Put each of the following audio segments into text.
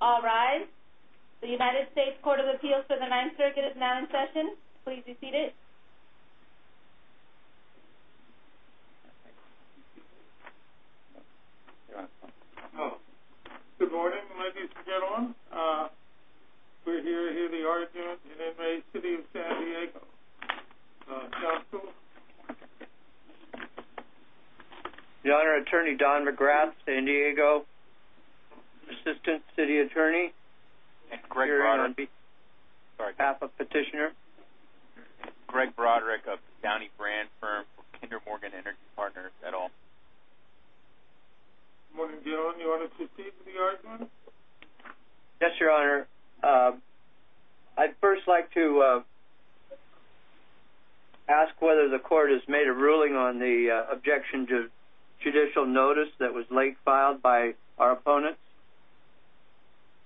All rise. The United States Court of Appeals for the 9th Circuit is now in session. Please be seated. Good morning, ladies and gentlemen. We're here to hear the argument in the city of San Diego. Counsel? Your Honor, Attorney Don McGrath, San Diego. Assistant City Attorney. Greg Broderick. PAPA Petitioner. Greg Broderick of Downey Brand Firm, Kinder Morgan Energy Partners, et al. Good morning, Your Honor. You wanted to speak to the argument? Yes, Your Honor. I'd first like to ask whether the court has made a ruling on the objection to judicial notice that was late filed by our opponents?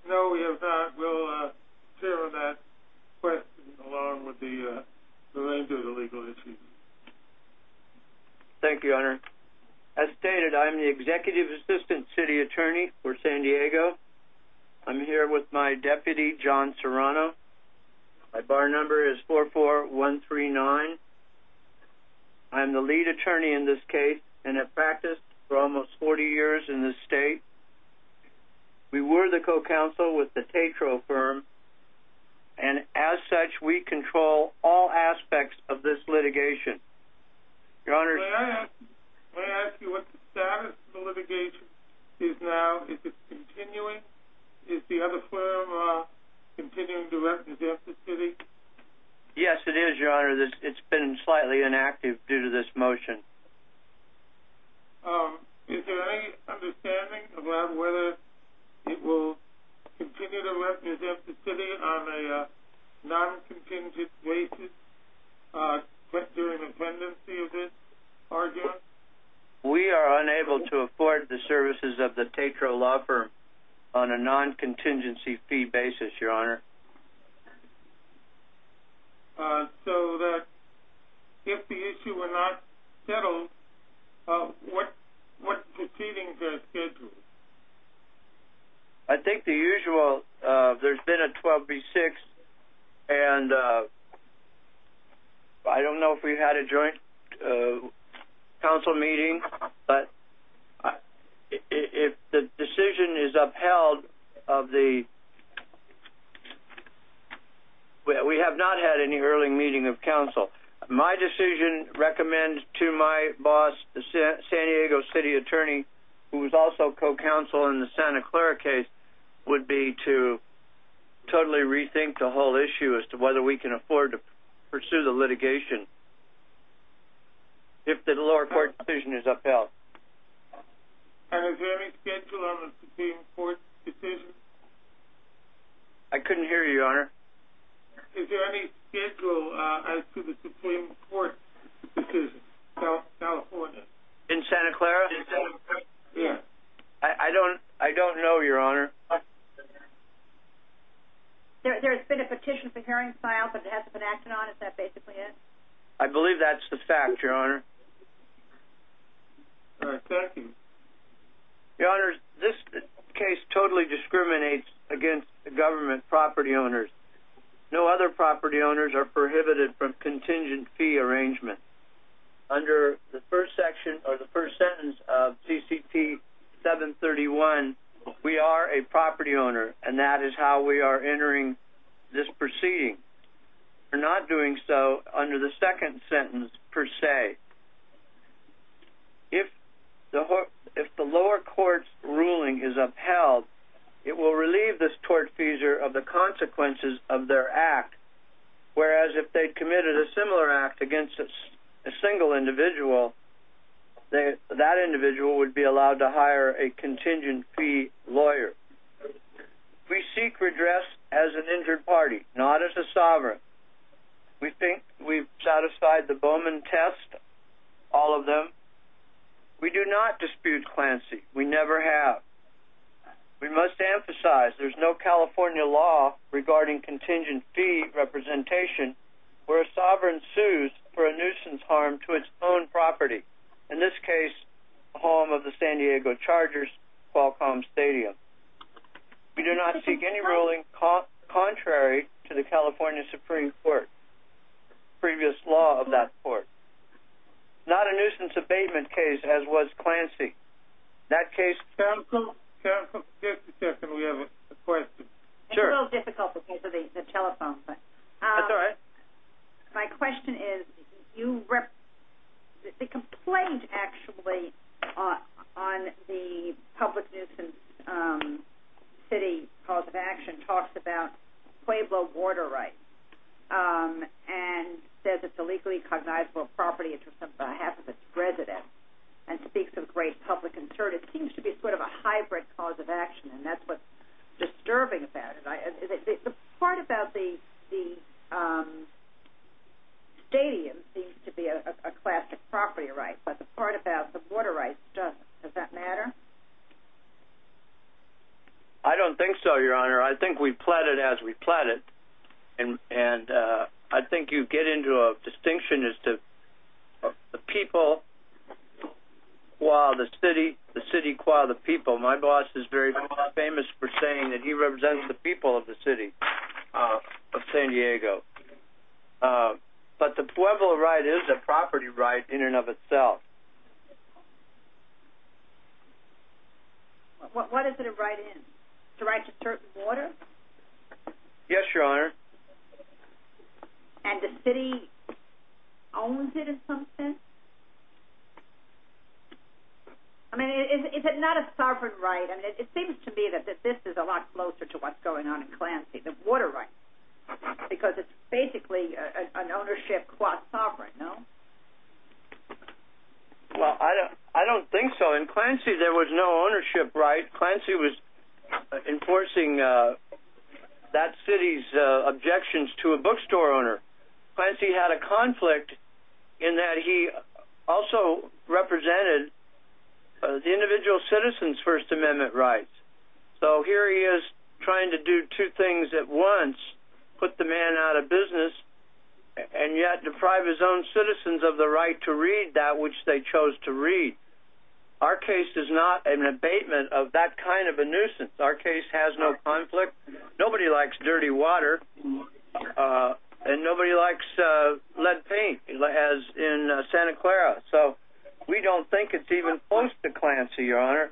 No, we have not. We'll hear on that question along with the remainder of the legal issues. Thank you, Your Honor. As stated, I'm the Executive Assistant City Attorney for San Diego. I'm here with my deputy, John Serrano. My bar number is 44139. I'm the lead attorney in this case and have practiced for almost 40 years in this state. We were the co-counsel with the Tetro Firm, and as such, we control all aspects of this litigation. May I ask you what the status of the litigation is now? Is it continuing? Is the other firm continuing to represent the city? Yes, it is, Your Honor. It's been slightly inactive due to this motion. Is there any understanding about whether it will continue to represent the city on a non-contingent basis during the pendency of this argument? We are unable to afford the services of the Tetro Law Firm on a non-contingency fee basis, Your Honor. If the issue were not settled, what proceedings are scheduled? I think the usual. There's been a 12B6, and I don't know if we had a joint council meeting, but if the decision is upheld, we have not had any early meeting of counsel. My decision, recommended to my boss, the San Diego City Attorney, who was also co-counsel in the Santa Clara case, would be to totally rethink the whole issue as to whether we can afford to pursue the litigation. If the lower court decision is upheld. And is there any schedule on the Supreme Court decision? I couldn't hear you, Your Honor. Is there any schedule as to the Supreme Court decision in California? In Santa Clara? Yes. I don't know, Your Honor. There has been a petition for hearing filed, but it hasn't been acted on, is that basically it? I believe that's the fact, Your Honor. All right. Thank you. Your Honor, this case totally discriminates against the government property owners. No other property owners are prohibited from contingent fee arrangement. Under the first section or the first sentence of CCT 731, we are a property owner, and that is how we are entering this proceeding. We're not doing so under the second sentence per se. If the lower court's ruling is upheld, it will relieve the tortfeasor of the consequences of their act, whereas if they committed a similar act against a single individual, that individual would be allowed to hire a contingent fee lawyer. We seek redress as an injured party, not as a sovereign. We think we've satisfied the Bowman test, all of them. We do not dispute Clancy. We never have. We must emphasize there's no California law regarding contingent fee representation where a sovereign sues for a nuisance harm to its own property, in this case the home of the San Diego Chargers, Qualcomm Stadium. We do not seek any ruling contrary to the California Supreme Court, previous law of that court. Not a nuisance abatement case as was Clancy. In that case, counsel? Counsel? Just a second. We have a question. Sure. It's a little difficult because of the telephone. That's all right. My question is, the complaint actually on the public nuisance city cause of action talks about Pueblo water rights and says it's a legally cognizable property, and speaks of great public concern. It seems to be sort of a hybrid cause of action, and that's what's disturbing about it. The part about the stadium seems to be a classic property right, but the part about the water rights doesn't. Does that matter? I don't think so, Your Honor. I think we've plotted as we plotted, and I think you get into a distinction as to the people qua the city, the city qua the people. My boss is very famous for saying that he represents the people of the city of San Diego. But the Pueblo right is a property right in and of itself. What is it a right in? It's a right to certain water? Yes, Your Honor. And the city owns it in some sense? I mean, is it not a sovereign right? I mean, it seems to me that this is a lot closer to what's going on in Clancy, the water rights, because it's basically an ownership qua sovereign, no? Well, I don't think so. In Clancy, there was no ownership right. Clancy was enforcing that city's objections to a bookstore owner. Clancy had a conflict in that he also represented the individual citizen's First Amendment rights. So here he is trying to do two things at once, put the man out of business, and yet deprive his own citizens of the right to read that which they chose to read. Our case is not an abatement of that kind of a nuisance. Our case has no conflict. Nobody likes dirty water, and nobody likes lead paint, as in Santa Clara. So we don't think it's even close to Clancy, Your Honor.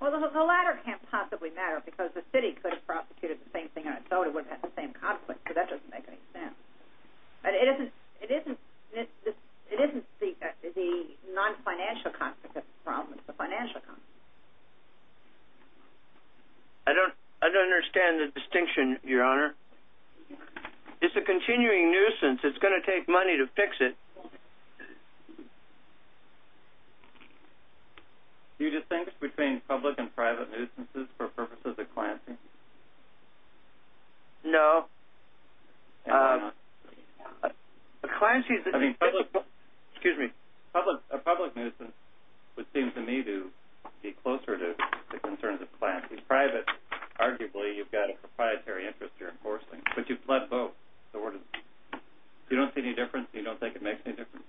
Well, the latter can't possibly matter, because the city could have prosecuted the same thing on its own. It wouldn't have had the same conflict, so that doesn't make any sense. But it isn't the non-financial conflict that's the problem. It's the financial conflict. I don't understand the distinction, Your Honor. It's a continuing nuisance. It's going to take money to fix it. Do you distinct between public and private nuisances for purposes of Clancy? No. A public nuisance would seem to me to be closer to the concerns of Clancy. Private, arguably, you've got a proprietary interest you're enforcing, but you've pled both. If you don't see any difference, you don't think it makes any difference?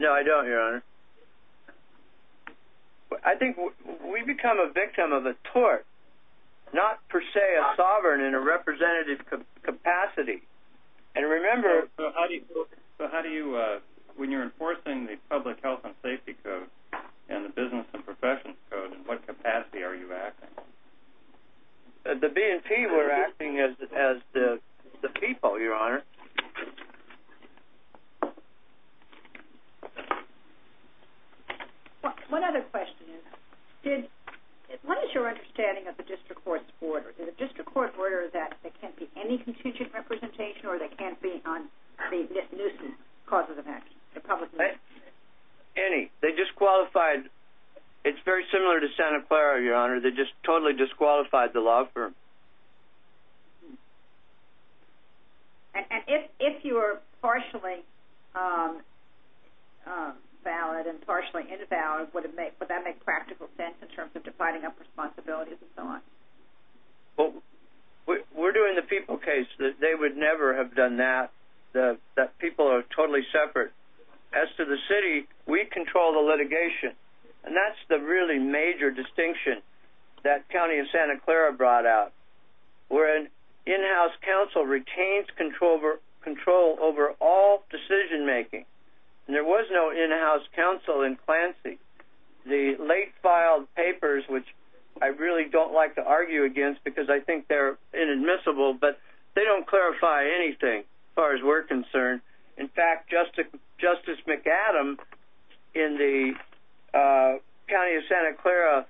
No, I don't, Your Honor. I think we become a victim of a tort, not per se a sovereign in a representative capacity. So how do you, when you're enforcing the Public Health and Safety Code and the Business and Professionals Code, in what capacity are you acting? The BNP, we're acting as the people, Your Honor. One other question is, what is your understanding of the district court's order? Is the district court's order that there can't be any contingent representation or they can't be on the nuisance causes of action, the public nuisance? Any. They disqualified. It's very similar to Santa Clara, Your Honor. They just totally disqualified the law firm. And if you are partially valid and partially invalid, would that make practical sense in terms of dividing up responsibilities and so on? Well, we're doing the people case. They would never have done that. The people are totally separate. As to the city, we control the litigation, and that's the really major distinction that County of Santa Clara brought out. We're an in-house council, retains control over all decision-making, and there was no in-house council in Clancy. The late filed papers, which I really don't like to argue against because I think they're inadmissible, but they don't clarify anything as far as we're concerned. In fact, Justice McAdam, in the County of Santa Clara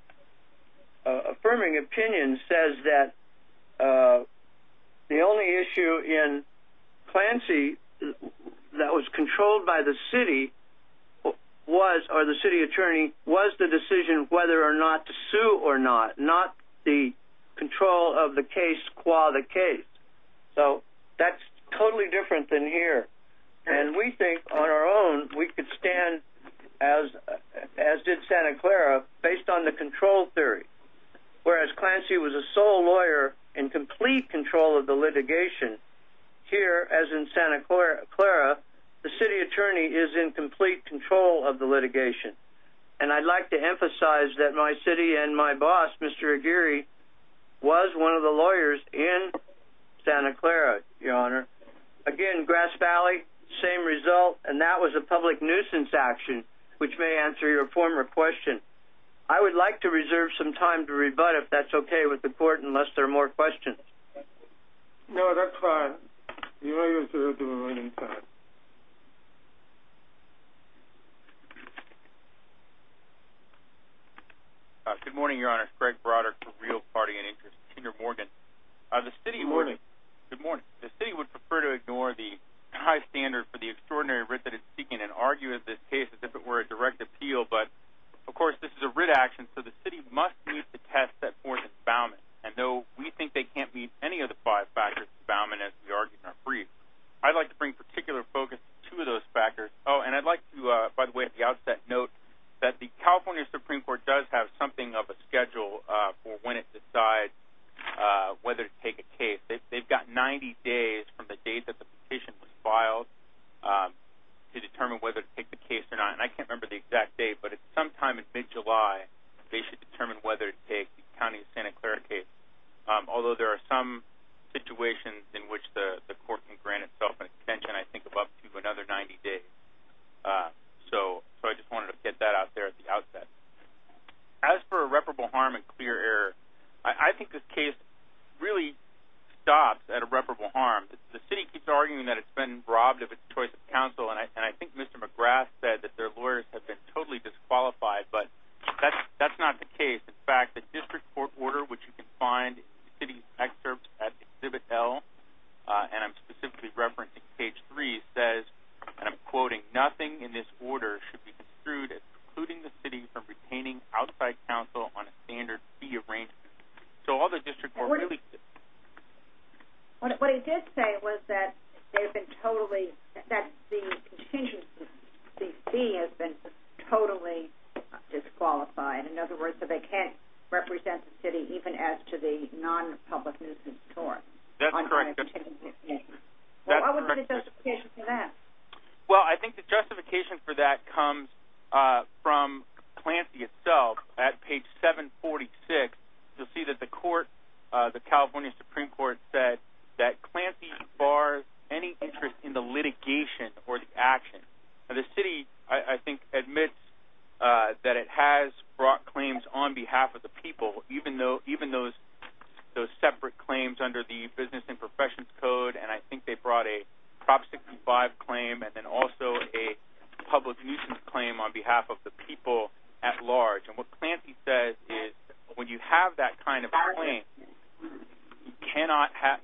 affirming opinion, says that the only issue in Clancy that was controlled by the city or the city attorney was the decision whether or not to sue or not, not the control of the case qua the case. So that's totally different than here. And we think on our own we could stand, as did Santa Clara, based on the control theory. Whereas Clancy was a sole lawyer in complete control of the litigation, here, as in Santa Clara, the city attorney is in complete control of the litigation. And I'd like to emphasize that my city and my boss, Mr. Aguirre, was one of the lawyers in Santa Clara, Your Honor. Again, Grass Valley, same result, and that was a public nuisance action, which may answer your former question. I would like to reserve some time to rebut if that's okay with the court unless there are more questions. No, that's fine. You may reserve the remaining time. Good morning, Your Honor. It's Craig Broderick for Real Party and Interest, Senior Morgan. Good morning. Good morning. The city would prefer to ignore the high standard for the extraordinary writ that it's seeking and argue in this case as if it were a direct appeal. But, of course, this is a writ action, so the city must meet the test set forth in expoundment. And though we think they can't meet any of the five factors of expoundment, as we argued in our brief, I'd like to bring particular focus to two of those factors. Oh, and I'd like to, by the way, at the outset, note that the California Supreme Court does have something of a schedule for when it decides whether to take a case. They've got 90 days from the date that the petition was filed to determine whether to take the case or not. And I can't remember the exact date, but at some time in mid-July they should determine whether to take the County of Santa Clara case, although there are some situations in which the court can grant itself an extension, I think, of up to another 90 days. So I just wanted to get that out there at the outset. As for irreparable harm and clear error, I think this case really stops at irreparable harm. The city keeps arguing that it's been robbed of its choice of counsel, and I think Mr. McGrath said that their lawyers have been totally disqualified, but that's not the case. In fact, the district court order, which you can find in the city's excerpt at Exhibit L, and I'm specifically referencing page 3, says, and I'm quoting, nothing in this order should be construed as precluding the city from retaining outside counsel on a standard fee arrangement. So all the district court released it. What he did say was that the contingency fee has been totally disqualified. In other words, that they can't represent the city even as to the non-public nuisance tort. That's correct. That's correct. What was the justification for that? Well, I think the justification for that comes from Clancy itself. At page 746, you'll see that the court, the California Supreme Court, said that Clancy bars any interest in the litigation or the action. The city, I think, admits that it has brought claims on behalf of the people, even those separate claims under the Business and Professions Code, and I think they brought a Prop 65 claim and then also a public nuisance claim on behalf of the people at large. And what Clancy says is when you have that kind of claim,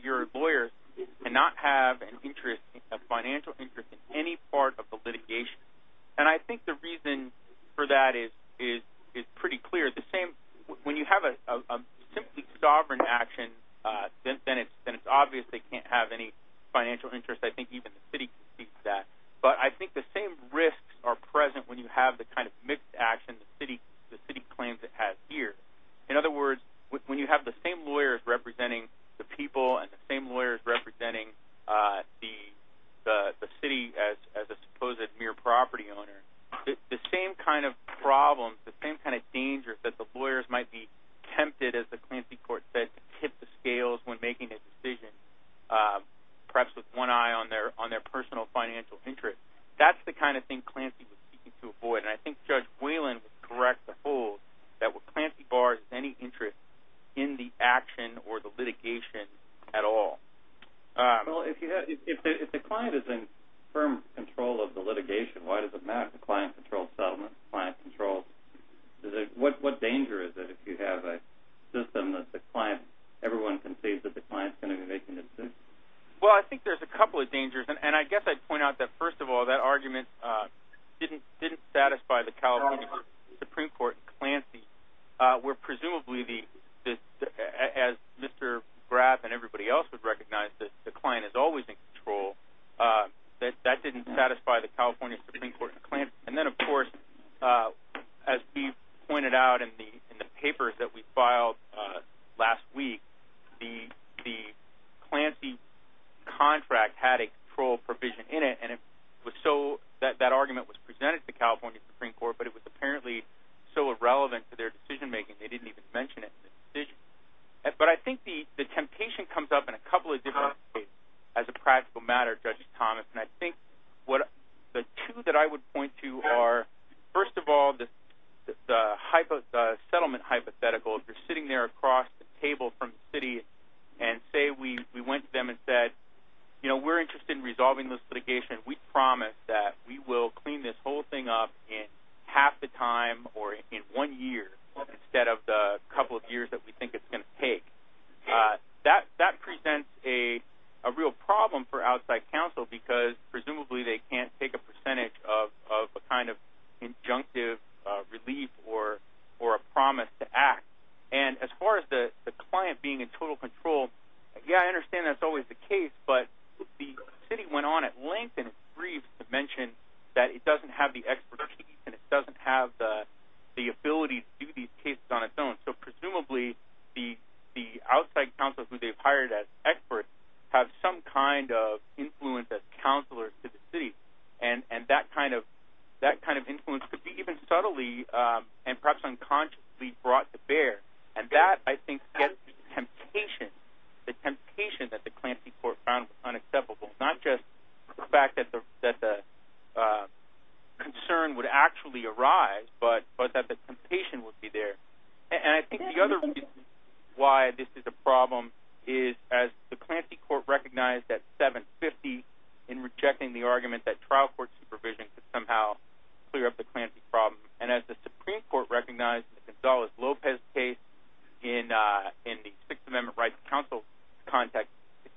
your lawyers cannot have a financial interest in any part of the litigation. And I think the reason for that is pretty clear. When you have a simply sovereign action, then it's obvious they can't have any financial interest. I think even the city can see that. But I think the same risks are present when you have the kind of mixed action the city claims it has here. In other words, when you have the same lawyers representing the people and the same lawyers representing the city as a supposed mere property owner, the same kind of problems, the same kind of dangers that the lawyers might be tempted, as the Clancy court said, to tip the scales when making a decision, perhaps with one eye on their personal financial interest, that's the kind of thing Clancy was seeking to avoid. And I think Judge Whalen would correct the fool that Clancy bars any interest in the action or the litigation at all. Well, if the client is in firm control of the litigation, why does it matter? The client controls settlement. The client controls... What danger is it if you have a system that the client, everyone can see that the client's going to be making a decision? Well, I think there's a couple of dangers. And I guess I'd point out that, first of all, that argument didn't satisfy the California Supreme Court and Clancy, where presumably, as Mr. Graf and everybody else would recognize, that the client is always in control. That didn't satisfy the California Supreme Court and Clancy. And then, of course, as Steve pointed out in the papers that we filed last week, the Clancy contract had a control provision in it, and that argument was presented to the California Supreme Court, but it was apparently so irrelevant to their decision-making they didn't even mention it in the decision. But I think the temptation comes up in a couple of different ways as a practical matter, Judge Thomas. And I think the two that I would point to are, first of all, the settlement hypothetical. If you're sitting there across the table from the city and say we went to them and said, you know, we're interested in resolving this litigation. We promised that we will clean this whole thing up in half the time or in one year, instead of the couple of years that we think it's going to take. That presents a real problem for outside counsel, because presumably they can't take a percentage of a kind of injunctive relief or a promise to act. And as far as the client being in total control, yeah, I understand that's always the case, but the city went on at length and brief to mention that it doesn't have the expertise and it doesn't have the ability to do these cases on its own. So presumably the outside counsel who they've hired as experts have some kind of influence as counselors to the city, and that kind of influence could be even subtly and perhaps unconsciously brought to bear. And that, I think, gets to the temptation, the temptation that the Clancy court found unacceptable, not just the fact that the concern would actually arise, but that the temptation would be there. And I think the other reason why this is a problem is as the Clancy court recognized at 7.50 in rejecting the argument that trial court supervision could somehow clear up the Clancy problem, and as the Supreme Court recognized in the Gonzalez-Lopez case in the Sixth Amendment Rights Council context,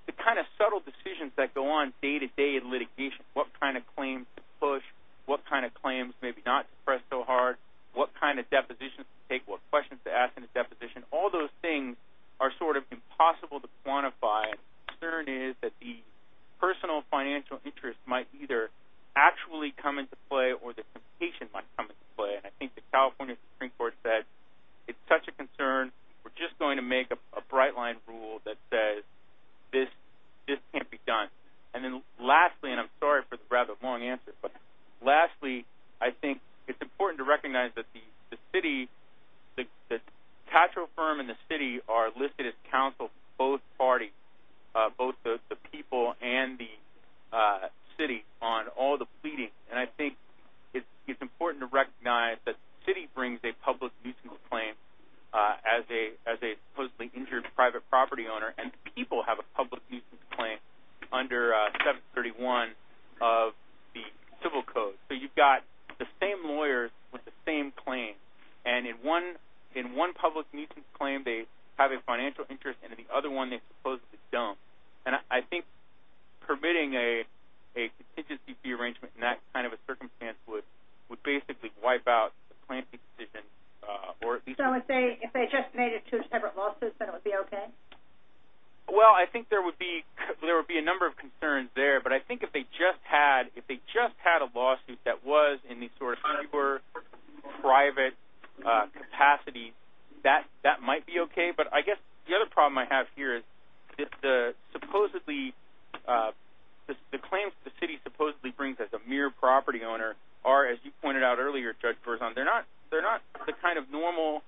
the kind of subtle decisions that go on day-to-day in litigation, what kind of claims to push, what kind of claims maybe not to press so hard, what kind of depositions to take, what questions to ask in a deposition, all those things are sort of impossible to quantify. And my concern is that the personal financial interest might either actually come into play or the temptation might come into play. And I think the California Supreme Court said it's such a concern, we're just going to make a bright-line rule that says this can't be done. And then lastly, and I'm sorry for the rather long answer, but lastly I think it's important to recognize that the city, the Tatro firm and the city are listed as counsel for both parties, both the people and the city on all the pleadings. And I think it's important to recognize that the city brings a public nuisance claim as a supposedly injured private property owner, and the people have a public nuisance claim under 731 of the Civil Code. So you've got the same lawyers with the same claim, and in one public nuisance claim they have a financial interest and in the other one they supposedly don't. And I think permitting a contingency fee arrangement in that kind of a circumstance would basically wipe out the plaintiff's decision or at least... So if they just made it two separate lawsuits, then it would be okay? Well, I think there would be a number of concerns there, but I think if they just had a lawsuit that was in these sort of super private capacities, that might be okay. But I guess the other problem I have here is that the claims the city supposedly brings as a mere property owner are, as you pointed out earlier, Judge Berzon, they're not the kind of normal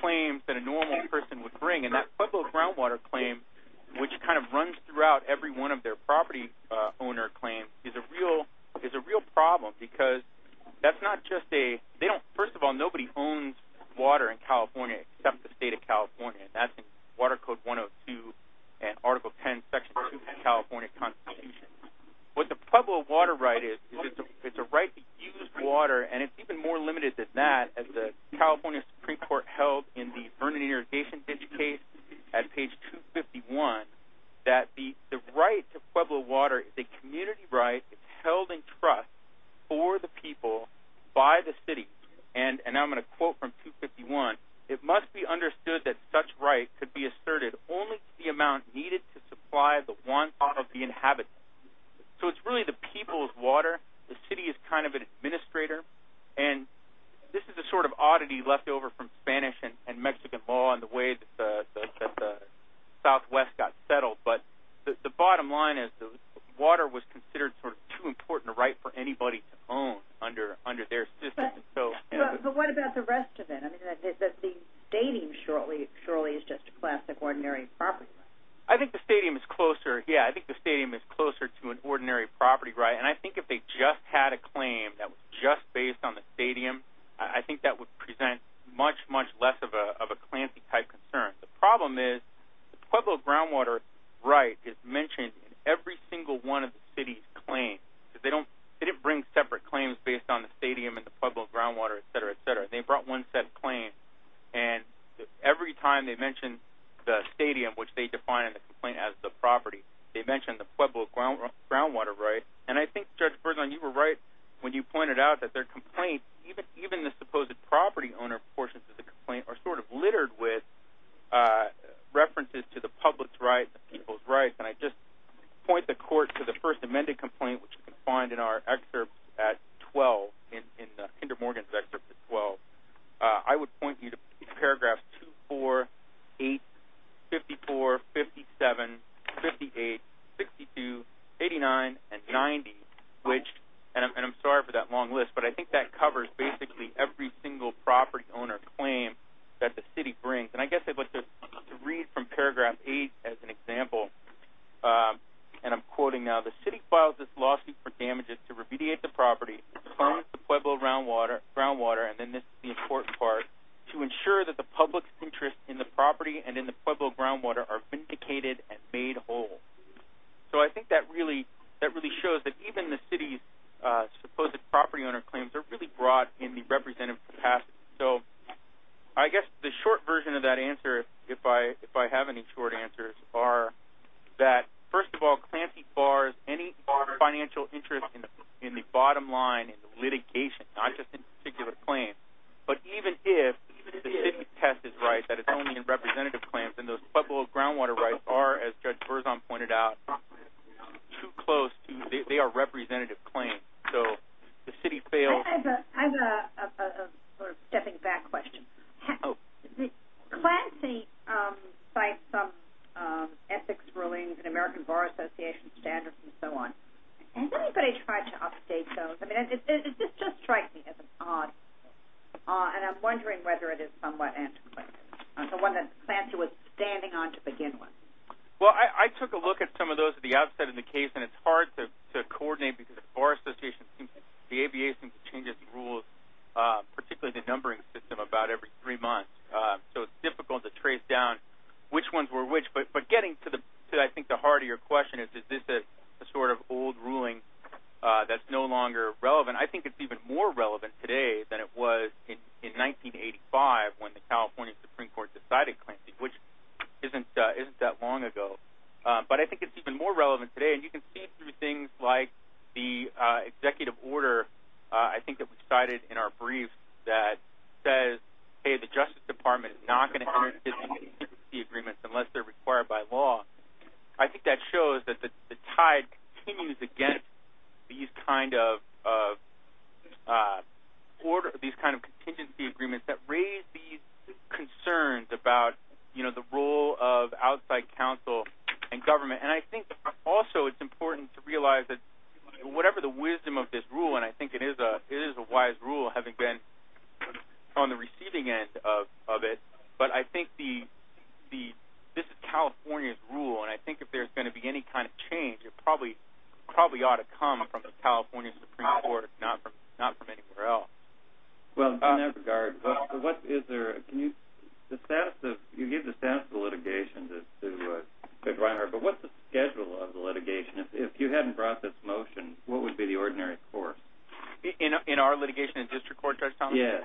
claims that a normal person would bring. And that Pueblo groundwater claim, which kind of runs throughout every one of their property owner claims, is a real problem because that's not just a... First of all, nobody owns water in California except the state of California. That's in Water Code 102 and Article 10, Section 2 of the California Constitution. What the Pueblo water right is, it's a right to use water, and it's even more limited than that. The California Supreme Court held in the Vernon Irrigation Ditch case at page 251 that the right to Pueblo water is a community right. It's held in trust for the people by the city. And I'm going to quote from 251. It must be understood that such right could be asserted only to the amount needed to supply the wants of the inhabitants. So it's really the people's water. The city is kind of an administrator. And this is a sort of oddity left over from Spanish and Mexican law and the way that the Southwest got settled, but the bottom line is the water was considered sort of too important a right for anybody to own under their system. But what about the rest of it? I mean, the stadium surely is just a classic ordinary property right. I think the stadium is closer. Yeah, I think the stadium is closer to an ordinary property right. And I think if they just had a claim that was just based on the stadium, I think that would present much, much less of a clancy-type concern. The problem is the Pueblo groundwater right is mentioned in every single one of the city's claims. They didn't bring separate claims based on the stadium and the Pueblo groundwater, et cetera, et cetera. They brought one set of claims, and every time they mentioned the stadium, which they define in the complaint as the property, they mentioned the Pueblo groundwater right. And I think, Judge Bergen, you were right when you pointed out that their complaints, even the supposed property owner portions of the complaint, are sort of littered with references to the public's rights and people's rights. And I just point the court to the first amended complaint, which you can find in our excerpt at 12, in Hinder Morgan's excerpt at 12. I would point you to paragraphs 2, 4, 8, 54, 57, 58, 62, 89, and 90, and I'm sorry for that long list, but I think that covers basically every single property owner claim that the city brings. And I guess I'd like to read from paragraph 8 as an example. And I'm quoting now, the city filed this lawsuit for damages to remediate the property from the Pueblo groundwater, and then this is the important part, to ensure that the public's interest in the property and in the Pueblo groundwater are vindicated and made whole. So I think that really shows that even the city's supposed property owner claims are really broad in the representative capacity. So I guess the short version of that answer, if I have any short answers, are that, first of all, Clancy bars any financial interest in the bottom line litigation, not just in particular claims, but even if the city's test is right that it's only in representative claims, then those Pueblo groundwater rights are, as Judge Berzon pointed out, too close to, they are representative claims. So the city fails. I have a sort of stepping back question. Clancy cites some ethics rulings in American Bar Association standards and so on. Has anybody tried to update those? I mean, does this just strike me as odd? And I'm wondering whether it is somewhat antiquated, the one that Clancy was standing on to begin with. Well, I took a look at some of those at the outset of the case, and it's hard to coordinate because the Bar Association seems to, the ABA seems to change its rules, particularly the numbering system, about every three months. So it's difficult to trace down which ones were which. But getting to, I think, the heart of your question is, is this a sort of old ruling that's no longer relevant? I think it's even more relevant today than it was in 1985 when the California Supreme Court decided Clancy, which isn't that long ago. But I think it's even more relevant today. And you can see through things like the executive order, I think, that was cited in our brief that says, hey, the Justice Department is not going to enter into any contingency agreements unless they're required by law. I think that shows that the tide continues against these kind of order, these kind of contingency agreements that raise these concerns about, you know, the role of outside counsel and government. And I think also it's important to realize that whatever the wisdom of this rule, and I think it is a wise rule having been on the receiving end of it, but I think this is California's rule, and I think if there's going to be any kind of change it probably ought to come from the California Supreme Court, not from anywhere else. Well, in that regard, what is there, can you, you give the status of the litigation to Greg Reinhardt, but what's the schedule of the litigation? If you hadn't brought this motion, what would be the ordinary course? In our litigation in district court, Judge Thomas? Yes.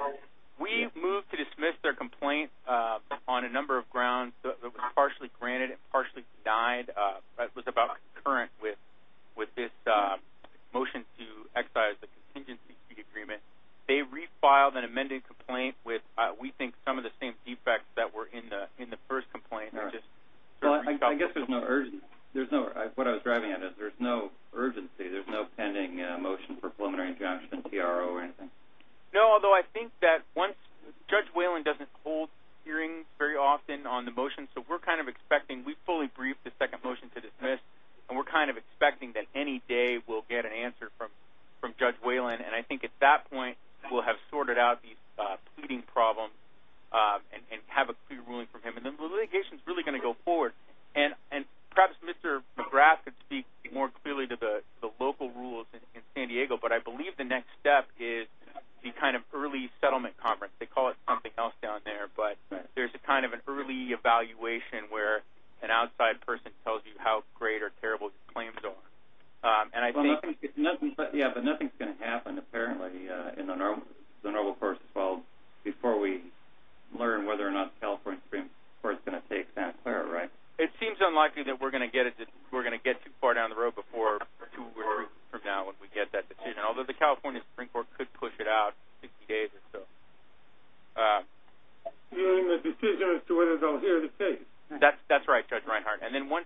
We moved to dismiss their complaint on a number of grounds. It was partially granted and partially denied. It was about concurrent with this motion to excise the contingency agreement. They refiled an amended complaint with, we think, some of the same defects that were in the first complaint. I guess there's no urgency. What I was driving at is there's no urgency, there's no pending motion for preliminary injunction, TRO, or anything. No, although I think that Judge Whalen doesn't hold hearings very often on the motion, so we're kind of expecting, we fully briefed the second motion to dismiss, and we're kind of expecting that any day we'll get an answer from Judge Whalen, and I think at that point we'll have sorted out these pleading problems and have a clear ruling from him. The litigation is really going to go forward, and perhaps Mr. McGrath could speak more clearly to the local rules in San Diego, but I believe the next step is the kind of early settlement conference. They call it something else down there, but there's kind of an early evaluation where an outside person tells you how great or terrible his claims are. Yeah, but nothing's going to happen apparently in the normal course before we learn whether or not the California Supreme Court is going to take that. Right. It seems unlikely that we're going to get too far down the road from now once we get that decision, although the California Supreme Court could push it out in 60 days or so. Hearing the decision as to whether they'll hear the case. That's right, Judge Reinhart. And then once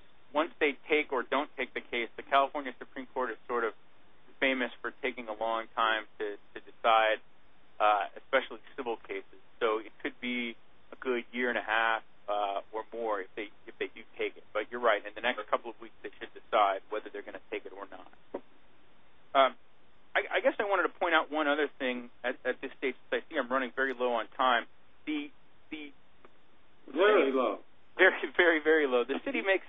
they take or don't take the case, the California Supreme Court is sort of famous for taking a long time to decide, especially civil cases. So it could be a good year and a half or more if they do take it. But you're right. In the next couple of weeks they should decide whether they're going to take it or not. I guess I wanted to point out one other thing at this stage because I see I'm running very low on time. Very low. Very, very low. The city makes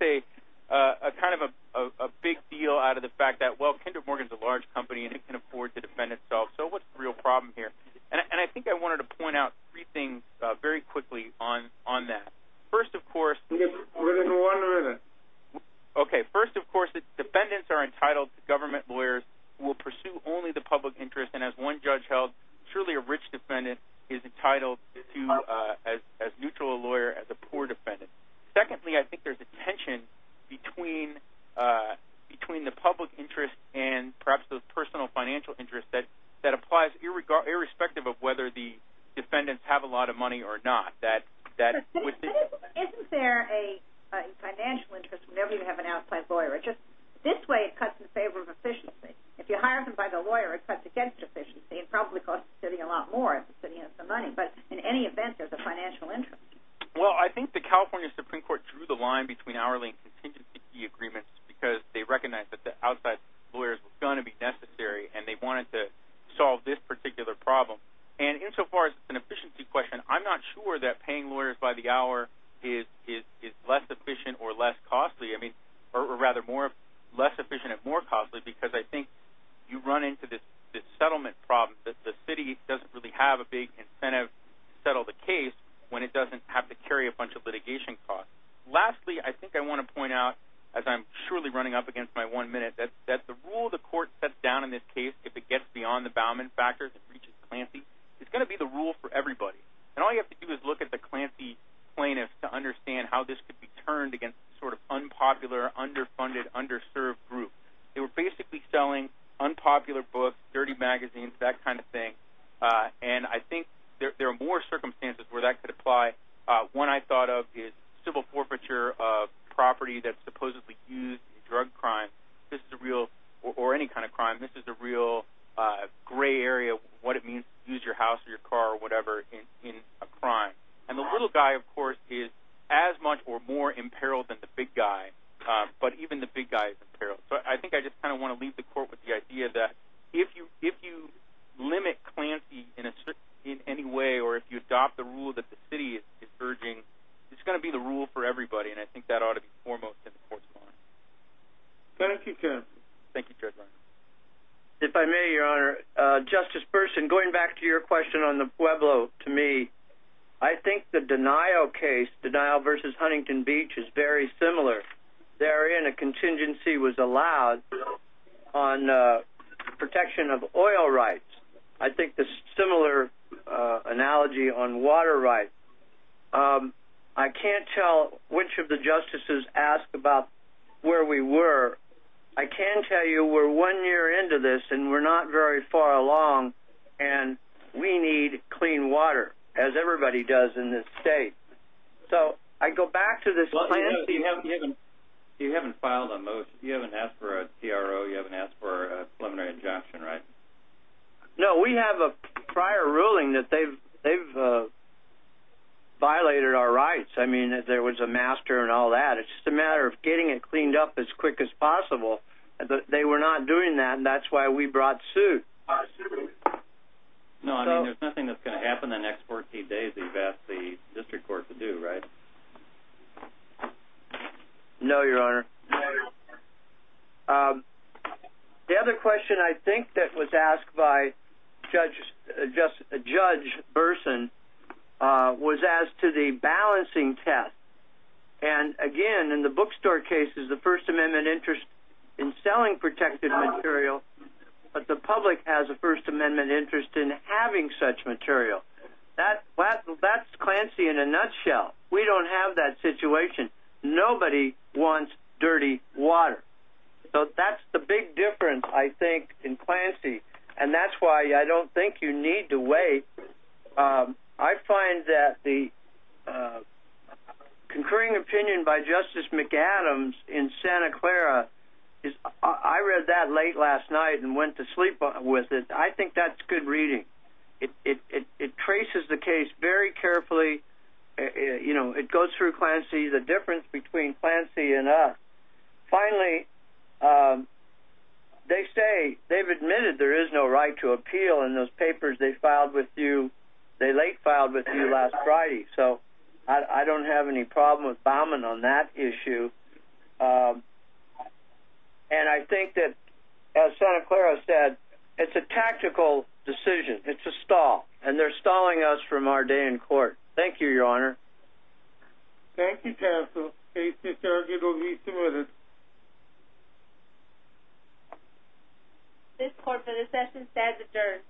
kind of a big deal out of the fact that, well, Kinder Morgan's a large company and it can afford to defend itself. So what's the real problem here? And I think I wanted to point out three things very quickly on that. First, of course, We have more than one minute. Okay. First, of course, defendants are entitled to government lawyers who will pursue only the public interest, and as one judge held, truly a rich defendant is entitled to as neutral a lawyer as a poor defendant. Secondly, I think there's a tension between the public interest and perhaps the personal financial interest that applies irrespective of whether the defendants have a lot of money or not. Isn't there a financial interest whenever you have an outside lawyer? This way it cuts in favor of efficiency. If you hire them by the lawyer, it cuts against efficiency and probably costs the city a lot more if the city has the money. But in any event, there's a financial interest. Well, I think the California Supreme Court drew the line between hourly and contingency agreements because they recognized that the outside lawyers were going to be necessary and they wanted to solve this particular problem. And insofar as an efficiency question, I'm not sure that paying lawyers by the hour is less efficient or less costly, or rather less efficient and more costly because I think you run into this settlement problem that the city doesn't really have a big incentive to settle the case when it doesn't have to carry a bunch of litigation costs. Lastly, I think I want to point out, as I'm surely running up against my one minute, that the rule the court sets down in this case, if it gets beyond the Bauman factors and reaches Clancy, is going to be the rule for everybody. And all you have to do is look at the Clancy plaintiffs to understand how this could be turned against a sort of unpopular, underfunded, underserved group. They were basically selling unpopular books, dirty magazines, that kind of thing. And I think there are more circumstances where that could apply. One I thought of is civil forfeiture of property that's supposedly used in a drug crime. This is a real, or any kind of crime, this is a real gray area, what it means to use your house or your car or whatever in a crime. And the little guy, of course, is as much or more in peril than the big guy. But even the big guy is in peril. So I think I just kind of want to leave the court with the idea that if you limit Clancy in any way or if you adopt the rule that the city is urging, it's going to be the rule for everybody. And I think that ought to be foremost in the court's mind. Thank you, Chairman. Thank you, Chairman. If I may, Your Honor, Justice Burson, going back to your question on the Pueblo to me, I think the Denial case, Denial v. Huntington Beach, is very similar. Therein a contingency was allowed on protection of oil rights. I think the similar analogy on water rights. I can't tell which of the justices asked about where we were. I can tell you we're one year into this and we're not very far along, and we need clean water as everybody does in this state. So I go back to this Clancy. You haven't filed a motion. You haven't asked for a CRO. You haven't asked for a preliminary injunction, right? No. We have a prior ruling that they've violated our rights. I mean, there was a master and all that. It's just a matter of getting it cleaned up as quick as possible. They were not doing that, and that's why we brought suit. No, I mean, there's nothing that's going to happen the next 14 days that you've asked the district court to do, right? No, Your Honor. No, Your Honor. The other question I think that was asked by Judge Burson was as to the balancing test. And, again, in the bookstore cases, the First Amendment interest in selling protected material, but the public has a First Amendment interest in having such material. That's Clancy in a nutshell. We don't have that situation. Nobody wants dirty water. So that's the big difference, I think, in Clancy, and that's why I don't think you need to wait. I find that the concurring opinion by Justice McAdams in Santa Clara, I read that late last night and went to sleep with it. I think that's good reading. It traces the case very carefully. It goes through Clancy, the difference between Clancy and us. Finally, they say they've admitted there is no right to appeal, and those papers they late filed with you last Friday. So I don't have any problem with bombing on that issue. And I think that, as Santa Clara said, it's a tactical decision. It's a stall, and they're stalling us from our day in court. Thank you, Your Honor. Thank you, counsel. Case discharged. It will be submitted. This court for this session stands adjourned.